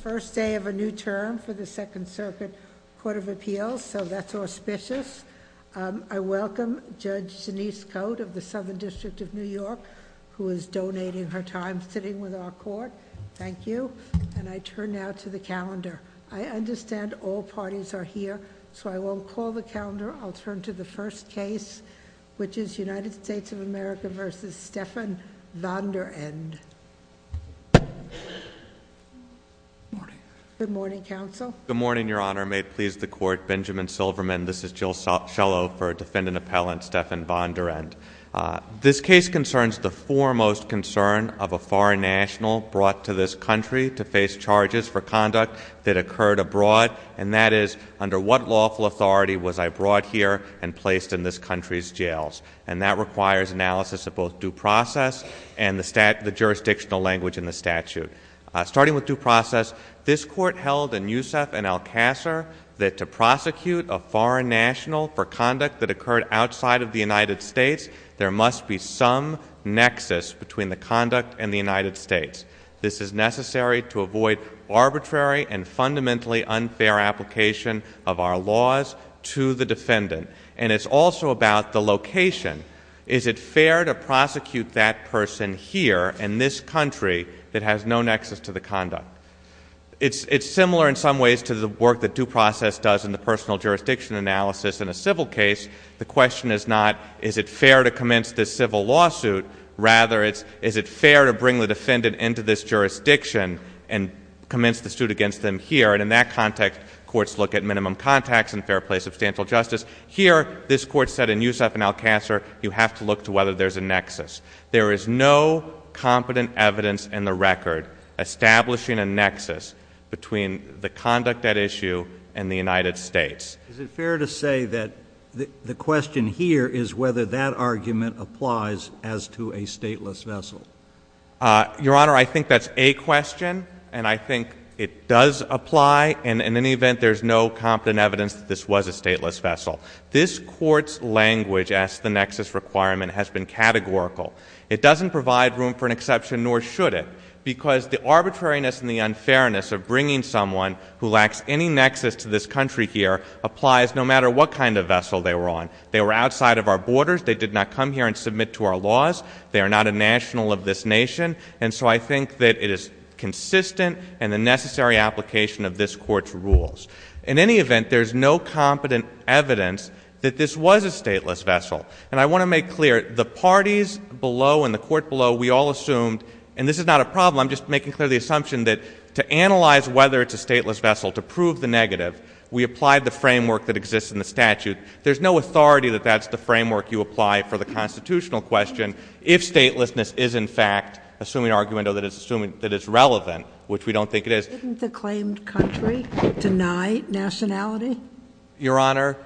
First day of a new term for the Second Circuit Court of Appeals, so that's auspicious. I welcome Judge Denise Cote of the Southern District of New York, who is donating her time sitting with our court. Thank you. And I turn now to the calendar. I understand all parties are here, so I won't call the calendar. I'll turn to the first case, which is United States of America v. Stephan Vonderend. Good morning, Counsel. Good morning, Your Honor. May it please the Court, Benjamin Silverman. This is Jill Schellow for Defendant Appellant Stephan Vonderend. This case concerns the foremost concern of a foreign national brought to this country to face charges for conduct that occurred abroad, and that is, under what lawful authority was I brought here and placed in this country's jails? And that requires analysis of both due process and the jurisdictional language in the statute. Starting with due process, this Court held in Youssef v. Alcacer that to prosecute a foreign national for conduct that occurred outside of the United States, there must be some nexus between the conduct and the United States. This is necessary to avoid arbitrary and fundamentally unfair application of our laws to the defendant. And it's also about the location. Is it fair to prosecute that person here in this country that has no nexus to the conduct? It's similar in some ways to the work that due process does in the personal jurisdiction analysis in a civil case. The question is not, is it fair to commence this civil lawsuit? Rather, it's, is it fair to bring the defendant into this jurisdiction and commence the suit against them here? And in that context, courts look at minimum contacts and fair play, substantial justice. Here, this Court said in Youssef v. Alcacer, you have to look to whether there's a nexus. There is no competent evidence in the record establishing a nexus between the conduct at issue and the United States. Is it fair to say that the question here is whether that argument applies as to a stateless vessel? Your Honor, I think that's a question, and I think it does apply. And in any event, there's no competent evidence that this was a stateless vessel. This Court's language as to the nexus requirement has been categorical. It doesn't provide room for an exception, nor should it, because the arbitrariness and the unfairness of bringing someone who lacks any nexus to this country here applies no matter what kind of vessel they were on. They were outside of our borders. They did not come here and submit to our laws. They are not a national of this nation. And so I think that it is consistent in the necessary application of this Court's rules. In any event, there's no competent evidence that this was a stateless vessel. And I want to make clear, the parties below and the Court below, we all assumed, and this is not a problem, I'm just making clear the assumption that to analyze whether it's a stateless vessel, to prove the negative, we applied the framework that exists in the statute. There's no authority that that's the framework you apply for the constitutional question if statelessness is, in fact, assuming argument or that it's assuming that it's relevant, which we don't think it is. Didn't the claimed country deny nationality? Your Honor,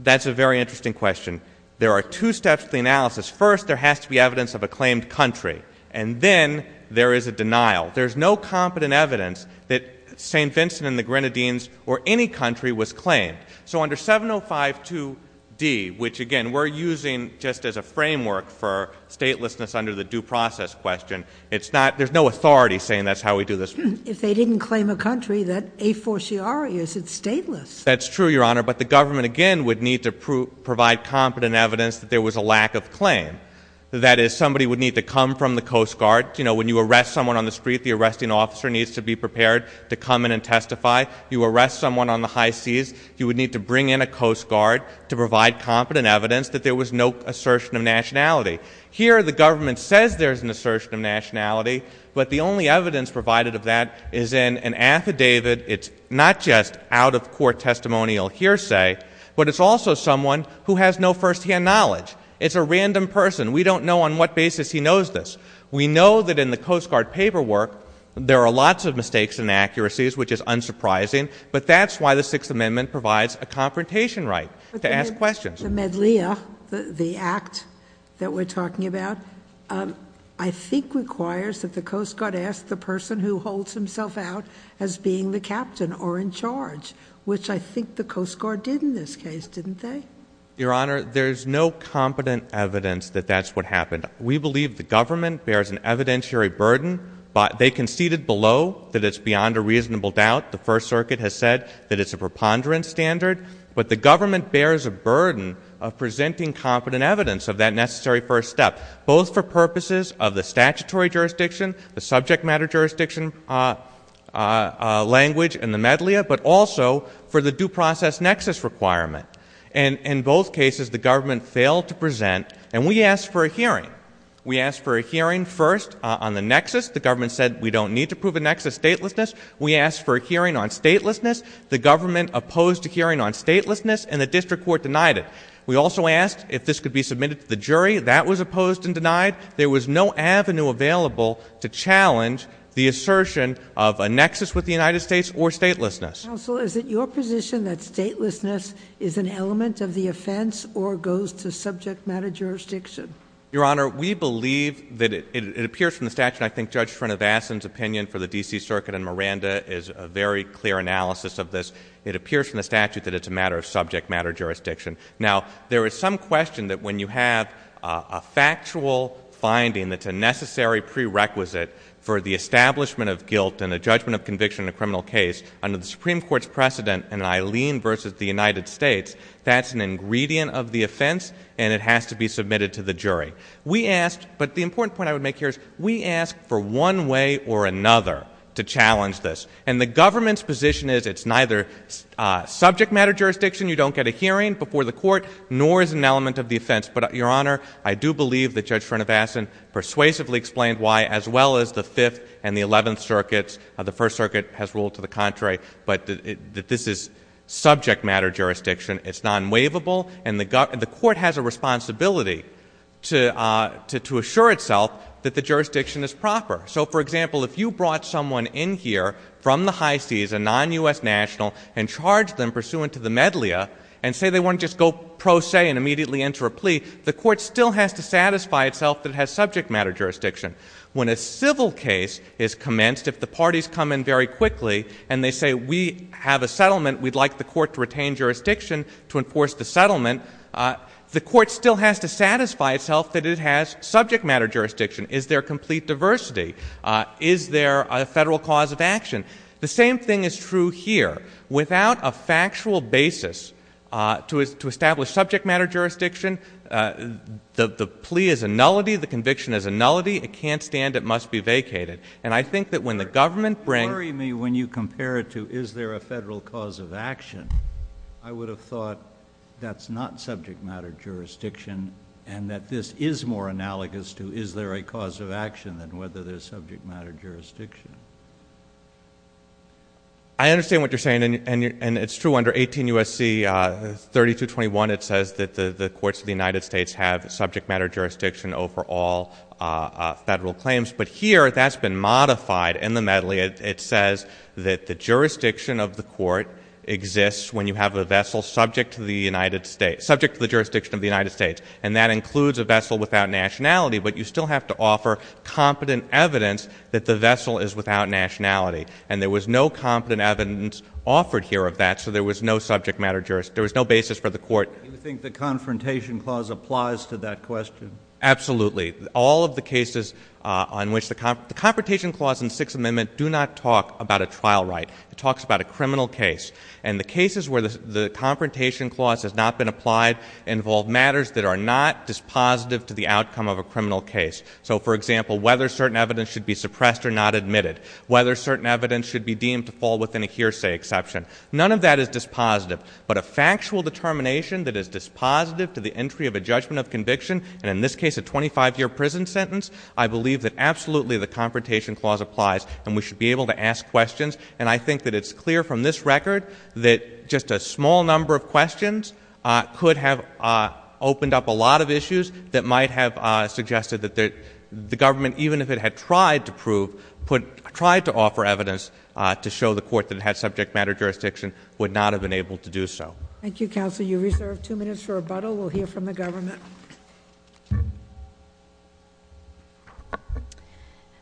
that's a very interesting question. There are two steps to the analysis. First, there has to be evidence of a claimed country. And then there is a denial. There's no competent evidence that St. Vincent and the Grenadines or any country was claimed. So under 7052d, which, again, we're using just as a framework for statelessness under the due process question, it's not, there's no authority saying that's how we do this. If they didn't claim a country, that a fortiori is, it's stateless. That's true, Your Honor. But the government, again, would need to provide competent evidence that there was a lack of claim. That is, somebody would need to come from the Coast Guard. You know, when you arrest someone on the street, the arresting officer needs to be prepared to come in and testify. You arrest someone on the high to provide competent evidence that there was no assertion of nationality. Here, the government says there's an assertion of nationality, but the only evidence provided of that is in an affidavit. It's not just out of court testimonial hearsay, but it's also someone who has no firsthand knowledge. It's a random person. We don't know on what basis he knows this. We know that in the Coast Guard paperwork, there are lots of mistakes and inaccuracies, which is unsurprising, but that's why the Sixth Amendment provides a confrontation right to ask questions. The Medleya, the act that we're talking about, I think requires that the Coast Guard ask the person who holds himself out as being the captain or in charge, which I think the Coast Guard did in this case, didn't they? Your Honor, there's no competent evidence that that's what happened. We believe the government bears an evidentiary burden, but they conceded below that it's beyond a reasonable doubt. The First Circuit has said that it's a preponderance standard, but the government bears a burden of presenting competent evidence of that necessary first step, both for purposes of the statutory jurisdiction, the subject matter jurisdiction language in the Medleya, but also for the due process nexus requirement. In both cases, the government failed to present, and we asked for a hearing. We asked for a hearing first on the nexus. The government said we don't need to prove a nexus statelessness. We asked for a hearing on statelessness. The government opposed a hearing on statelessness, and the district court denied it. We also asked if this could be submitted to the jury. That was opposed and denied. There was no avenue available to challenge the assertion of a nexus with the United States or statelessness. Counsel, is it your position that statelessness is an element of the offense or goes to subject matter jurisdiction? Your Honor, we believe that it appears from the statute, and I think Judge Srinivasan's opinion for the D.C. Circuit and Miranda is a very clear analysis of this. It appears from the statute that it's a matter of subject matter jurisdiction. Now, there is some question that when you have a factual finding that's a necessary prerequisite for the establishment of guilt and a judgment of conviction in a criminal case under the Supreme Court's precedent in Eileen versus the United States, that's an ingredient of the offense, and it has to be submitted to the jury. We asked, but the important point I would make here is we asked for one way or another to challenge this, and the government's position is it's neither subject matter jurisdiction, you don't get a hearing before the court, nor is it an element of the offense. But, Your Honor, I do believe that Judge Srinivasan persuasively explained why, as well as the Fifth and the Eleventh Circuits, the First Circuit has ruled to the contrary, but that this is subject matter jurisdiction. It's non-waivable, and the court has a responsibility to assure itself that the jurisdiction is proper. So, for example, if you brought someone in here from the high seas, a non-U.S. national, and charged them pursuant to the medleya, and say they want to just go pro se and immediately enter a plea, the court still has to satisfy itself that it has subject matter jurisdiction. When a civil case is commenced, if the parties come in very quickly, and they say we have a settlement, we'd like the court to retain jurisdiction to enforce the settlement, the court still has to satisfy itself that it has subject matter jurisdiction. Is there complete diversity? Is there a federal cause of action? The same thing is true here. Without a factual basis to establish subject matter jurisdiction, the plea is a nullity, the case is a nullity, it can't stand, it must be vacated. And I think that when the government brings…… when you compare it to is there a federal cause of action, I would have thought that's not subject matter jurisdiction, and that this is more analogous to is there a cause of action than whether there's subject matter jurisdiction. I understand what you're saying, and it's true under 18 U.S.C. 3221, it says that the courts of the United States have subject matter jurisdiction over all federal claims, but here that's been modified in the medley. It says that the jurisdiction of the court exists when you have a vessel subject to the United States, subject to the jurisdiction of the United States, and that includes a vessel without nationality, but you still have to offer competent evidence that the vessel is without nationality. And there was no competent evidence offered here of that, so there was no subject matter, there was no basis for the court… Do you think the Confrontation Clause applies to that question? Absolutely. All of the cases on which the – the Confrontation Clause and Sixth Amendment do not talk about a trial right. It talks about a criminal case. And the cases where the Confrontation Clause has not been applied involve matters that are not dispositive to the outcome of a criminal case. So, for example, whether certain evidence should be suppressed or not admitted, whether certain evidence should be deemed to fall within a hearsay exception. None of that is dispositive, but a factual determination that is dispositive to the entry of a judgment of conviction, and in this case a 25-year prison sentence, I believe that absolutely the Confrontation Clause applies and we should be able to ask questions. And I think that it's clear from this record that just a small number of questions could have opened up a lot of issues that might have suggested that the government, even if it had tried to prove – tried to offer evidence to show the court that it had subject matter jurisdiction, would not have been able to do so. Thank you, Counsel. You reserve two minutes for rebuttal. We'll hear from the government.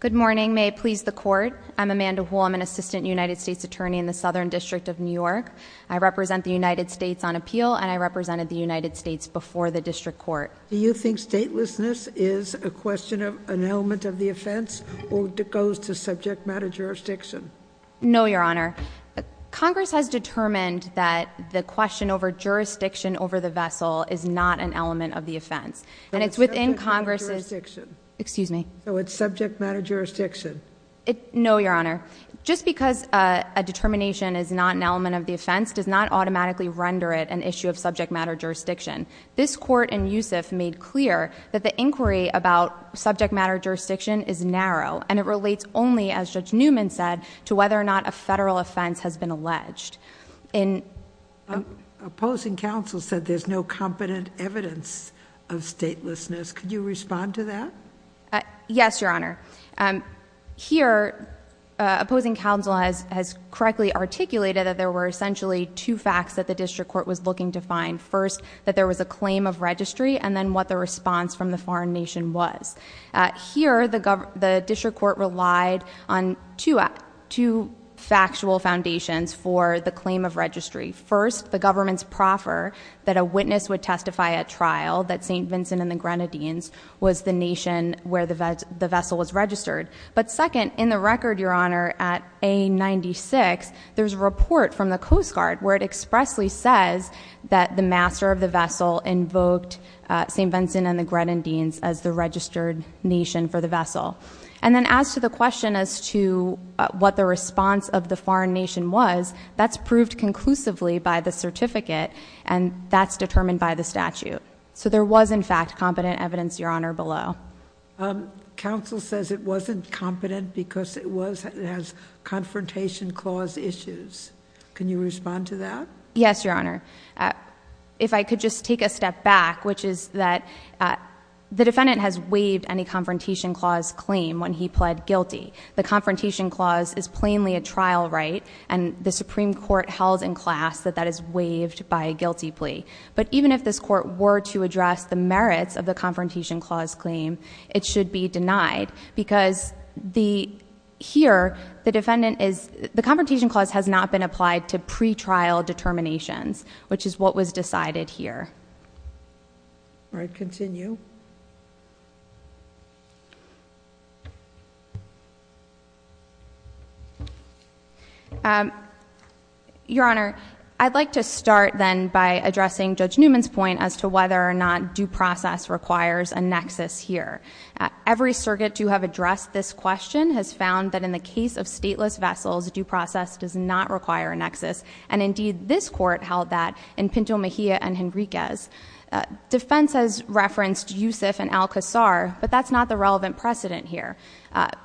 Good morning. May it please the Court. I'm Amanda Hu. I'm an Assistant United States Attorney in the Southern District of New York. I represent the United States on appeal and I represented the United States before the District Court. Do you think statelessness is a question of element of the offense or goes to subject matter jurisdiction? No, Your Honor. Congress has determined that the question over jurisdiction over the vessel is not an element of the offense. And it's within Congress's – But it's subject matter jurisdiction. Excuse me. So it's subject matter jurisdiction. No, Your Honor. Just because a determination is not an element of the offense does not automatically render it an issue of subject matter jurisdiction. This Court in Youssef made clear that the inquiry about subject matter jurisdiction is narrow and it relates only, as Judge Newman said, to whether or not a federal offense has been alleged. Opposing counsel said there's no competent evidence of statelessness. Could you respond to that? Yes, Your Honor. Here, opposing counsel has correctly articulated that there were essentially two facts that the District Court was looking to find. First, that there was a claim of registry and then what the response from the foreign nation was. Here, the District Court relied on two factual foundations for the claim of registry. First, the government's proffer that a witness would testify at trial that St. Vincent and the Grenadines was the nation where the vessel was registered. But second, in the record, Your Honor, at A96, there's a report from the Coast Guard where it expressly says that the master of the vessel invoked St. Vincent and the Grenadines as the registered nation for the vessel. And then as to the question as to what the response of the foreign nation was, that's proved conclusively by the certificate and that's determined by the statute. So there was, in fact, competent evidence, Your Honor, below. Counsel says it wasn't competent because it has confrontation clause issues. Can you respond to that? Yes, Your Honor. If I could just take a step back, which is that the defendant has waived any confrontation clause claim when he pled guilty. The confrontation clause is plainly a trial right and the Supreme Court held in class that that is waived by a guilty plea. But even if this court were to address the merits of the confrontation clause claim, it should be denied because here, the defendant is, the confrontation clause has not been applied to pretrial determinations, which is what was decided here. All right, continue. Your Honor, I'd like to start then by addressing Judge Newman's point as to whether or not due process requires a nexus here. Every circuit to have addressed this question has found that in the case of stateless vessels, due process does not require a nexus. And indeed, this court held that in Pinto Mejia and Henriquez. Defense has referenced two cases in which the defendant al-Qasr, but that's not the relevant precedent here.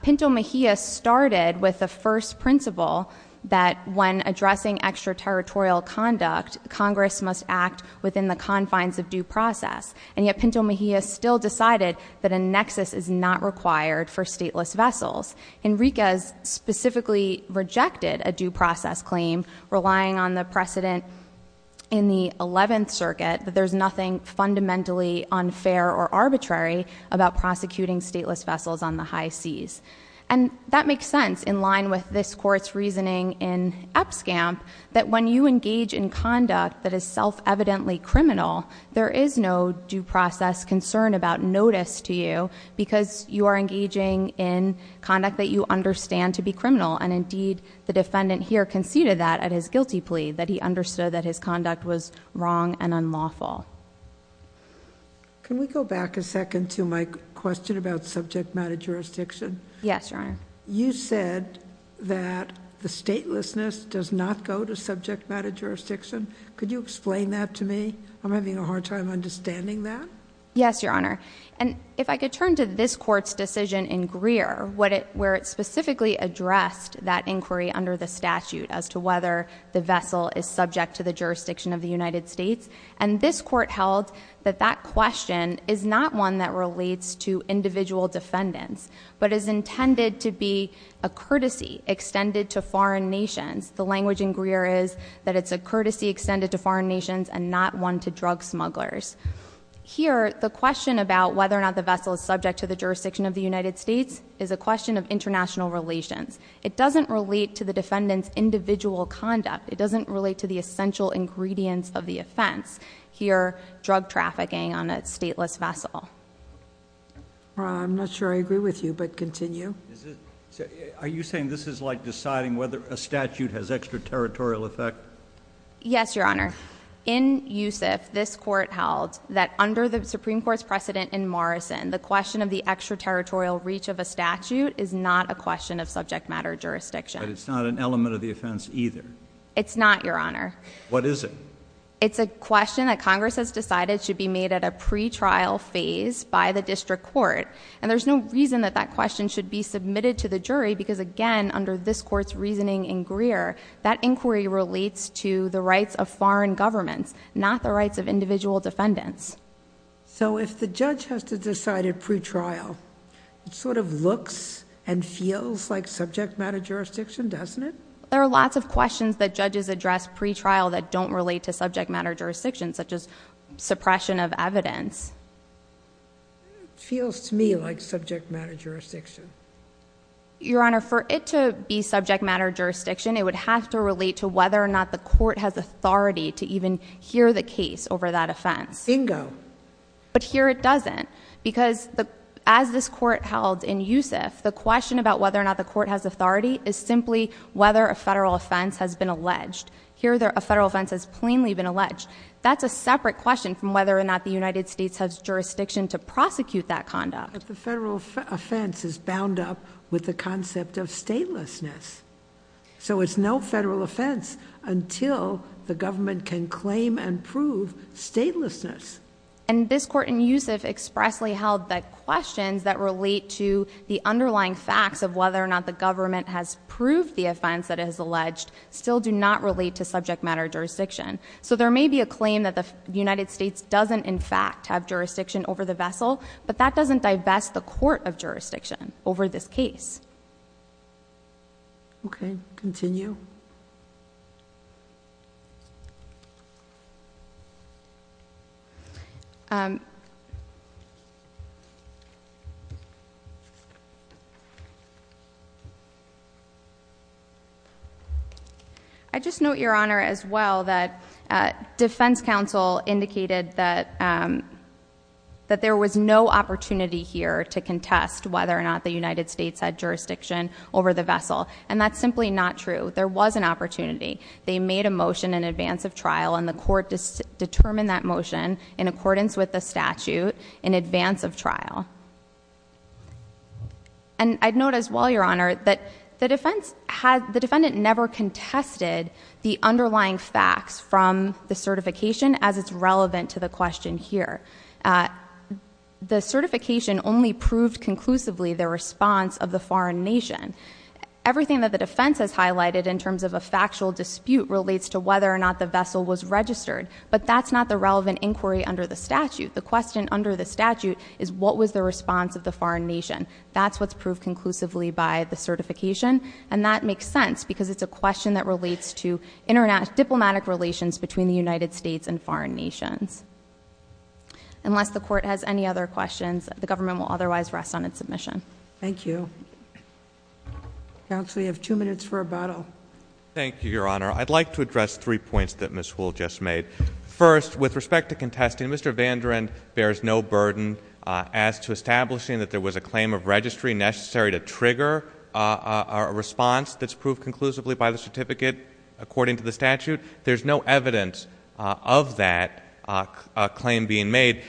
Pinto Mejia started with the first principle that when addressing extraterritorial conduct, Congress must act within the confines of due process. And yet Pinto Mejia still decided that a nexus is not required for stateless vessels. Henriquez specifically rejected a due process claim, relying on the precedent in the 11th or arbitrary about prosecuting stateless vessels on the high seas. And that makes sense in line with this court's reasoning in EPSCAMP, that when you engage in conduct that is self-evidently criminal, there is no due process concern about notice to you because you are engaging in conduct that you understand to be criminal. And indeed, the defendant here conceded that at his guilty plea that he understood that his conduct was wrong and unlawful. Can we go back a second to my question about subject matter jurisdiction? Yes, Your Honor. You said that the statelessness does not go to subject matter jurisdiction. Could you explain that to me? I'm having a hard time understanding that. Yes, Your Honor. And if I could turn to this court's decision in Greer, where it specifically addressed that inquiry under the statute as to whether the vessel is subject to the jurisdiction of the United States. And this court held that that question is not one that relates to individual defendants, but is intended to be a courtesy extended to foreign nations. The language in Greer is that it's a courtesy extended to foreign nations and not one to drug smugglers. Here, the question about whether or not the vessel is subject to the jurisdiction of the United States is a question of international relations. It doesn't relate to the defendant's ingredients of the offense. Here, drug trafficking on a stateless vessel. I'm not sure I agree with you, but continue. Are you saying this is like deciding whether a statute has extraterritorial effect? Yes, Your Honor. In Youssef, this court held that under the Supreme Court's precedent in Morrison, the question of the extraterritorial reach of a statute is not a question of subject matter jurisdiction. But it's not an element of the offense either? It's not, Your Honor. What is it? It's a question that Congress has decided should be made at a pretrial phase by the district court. And there's no reason that that question should be submitted to the jury because, again, under this court's reasoning in Greer, that inquiry relates to the rights of foreign governments, not the rights of individual defendants. So if the judge has to decide at pretrial, it sort of looks and feels like subject matter jurisdiction, doesn't it? There are lots of questions that judges address pretrial that don't relate to subject matter jurisdiction, such as suppression of evidence. It feels to me like subject matter jurisdiction. Your Honor, for it to be subject matter jurisdiction, it would have to relate to whether or not the court has authority to even hear the case over that offense. Bingo. But here it doesn't. Because as this court held in Youssef, the question about whether or not the court has authority is simply whether a federal offense has been alleged. Here, a federal offense has plainly been alleged. That's a separate question from whether or not the United States has jurisdiction to prosecute that conduct. But the federal offense is bound up with the concept of statelessness. So it's no federal offense until the government can claim and prove statelessness. And this court in Youssef expressly held that questions that relate to the underlying facts of whether or not the government has proved the offense that it has alleged still do not relate to subject matter jurisdiction. So there may be a claim that the United States doesn't, in fact, have jurisdiction over the vessel, but that doesn't divest the court of jurisdiction over this case. Okay. Continue. I just note, Your Honor, as well, that defense counsel indicated that there was no opportunity here to contest whether or not the United States had jurisdiction over the vessel. And that's simply not true. There was an opportunity. They made a motion in advance of trial, and the court determined that motion in accordance with the statute in advance of trial. And I'd note, as well, Your Honor, that the defense had, the defendant never contested the underlying facts from the certification as it's relevant to the question here. The certification only proved conclusively the response of the foreign nation. Everything that the defense has highlighted in terms of a factual dispute relates to whether or not the vessel was registered. But that's not the relevant inquiry under the statute. The question under the statute is what was the response of the foreign nation. That's what's proved conclusively by the certification, and that makes sense because it's a question that relates to diplomatic relations between the United States and foreign nations. Unless the court has any other questions, the government will otherwise rest on its submission. Thank you. Counsel, you have two minutes for rebuttal. Thank you, Your Honor. I'd like to address three points that Ms. Houle just made. First, with respect to contesting, Mr. Vandrand bears no burden as to establishing that there was a claim of registry necessary to trigger a response that's proved conclusively by the certificate according to the statute. There's no evidence of that claim being made.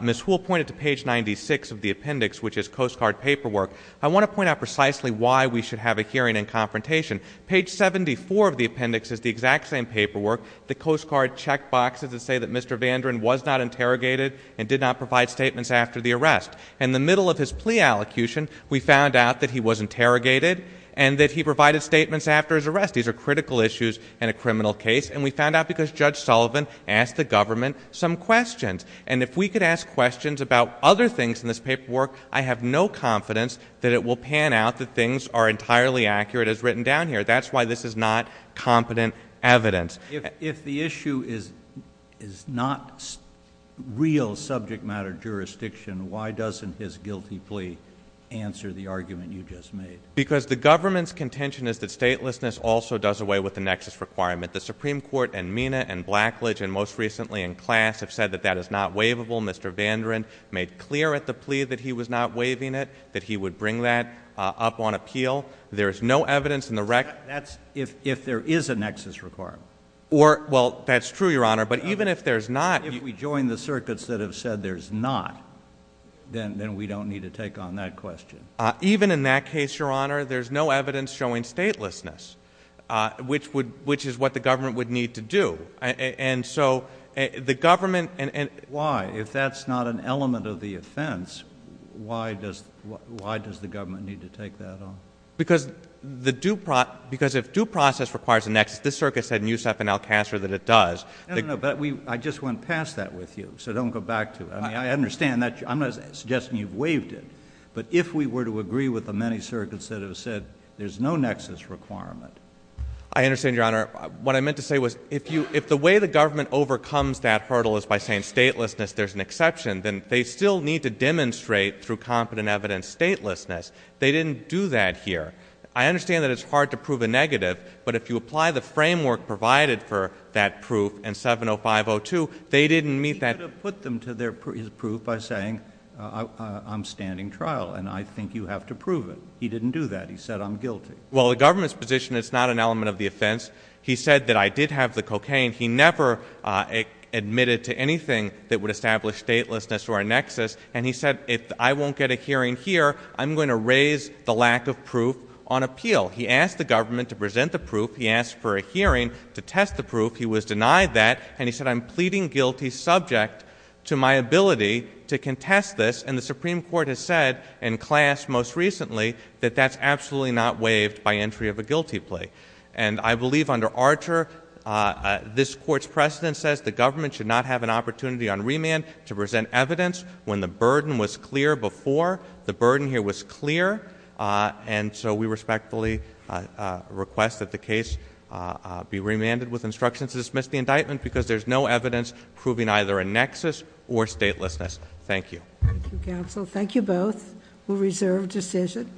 Ms. Houle pointed to page 96 of the appendix, which is Coast Guard paperwork. I want to point out precisely why we should have a hearing and confrontation. Page 74 of the appendix is the exact same paperwork. The Coast Guard checkboxes that say that Mr. Vandrand was not interrogated and did not provide statements after the arrest. In the middle of his plea allocution, we found out that he was interrogated and that he provided statements after his arrest. These are critical issues in a criminal case, and we found out because Judge Sullivan asked the government some questions. And if we could ask questions about other things in this paperwork, I have no confidence that it will pan out that things are entirely accurate as written down here. That's why this is not competent evidence. If the issue is not real subject matter jurisdiction, why doesn't his guilty plea answer the argument you just made? Because the government's contention is that statelessness also does away with the nexus requirement. The Supreme Court and MENA and Blackledge and most recently in class have said that that is not waivable. Mr. Vandrand made clear at the plea that he was not waiving it, that he would bring that up on appeal. There is no evidence in the record. That's if there is a nexus requirement. Well, that's true, Your Honor. But even if there's not— If we join the circuits that have said there's not, then we don't need to take on that question. Even in that case, Your Honor, there's no evidence showing statelessness, which is what the government would need to do. Why? If that's not an element of the offense, why does the government need to take that on? Because if due process requires a nexus, this circuit said in Youssef and Alcaster that it does. No, no, no. But I just went past that with you, so don't go back to it. I mean, I understand that. I'm not suggesting you've waived it. But if we were to agree with the many circuits that have said there's no nexus requirement— I understand, Your Honor. What I meant to say was if the way the government overcomes that hurdle is by saying statelessness, there's an exception, then they still need to demonstrate through competent evidence statelessness. They didn't do that here. I understand that it's hard to prove a negative, but if you apply the framework provided for that proof in 70502, they didn't meet that— You could have put them to their proof by saying, I'm standing trial, and I think you have to prove it. He didn't do that. He said, I'm guilty. Well, the government's position, it's not an element of the offense. He said that I did have the cocaine. He never admitted to anything that would establish statelessness or a nexus. And he said, if I won't get a hearing here, I'm going to raise the lack of proof on appeal. He asked the government to present the proof. He asked for a hearing to test the proof. He was denied that. And he said, I'm pleading guilty subject to my ability to contest this. And the Supreme Court has said in class most recently that that's absolutely not waived by entry of a guilty plea. And I believe under Archer, this Court's precedent says the government should not have an opportunity on remand to present evidence when the burden was clear before. The burden here was clear. And so we respectfully request that the case be remanded with instructions to dismiss the indictment because there's no evidence proving either a nexus or statelessness. Thank you. Thank you, counsel. Thank you both. We'll reserve decision.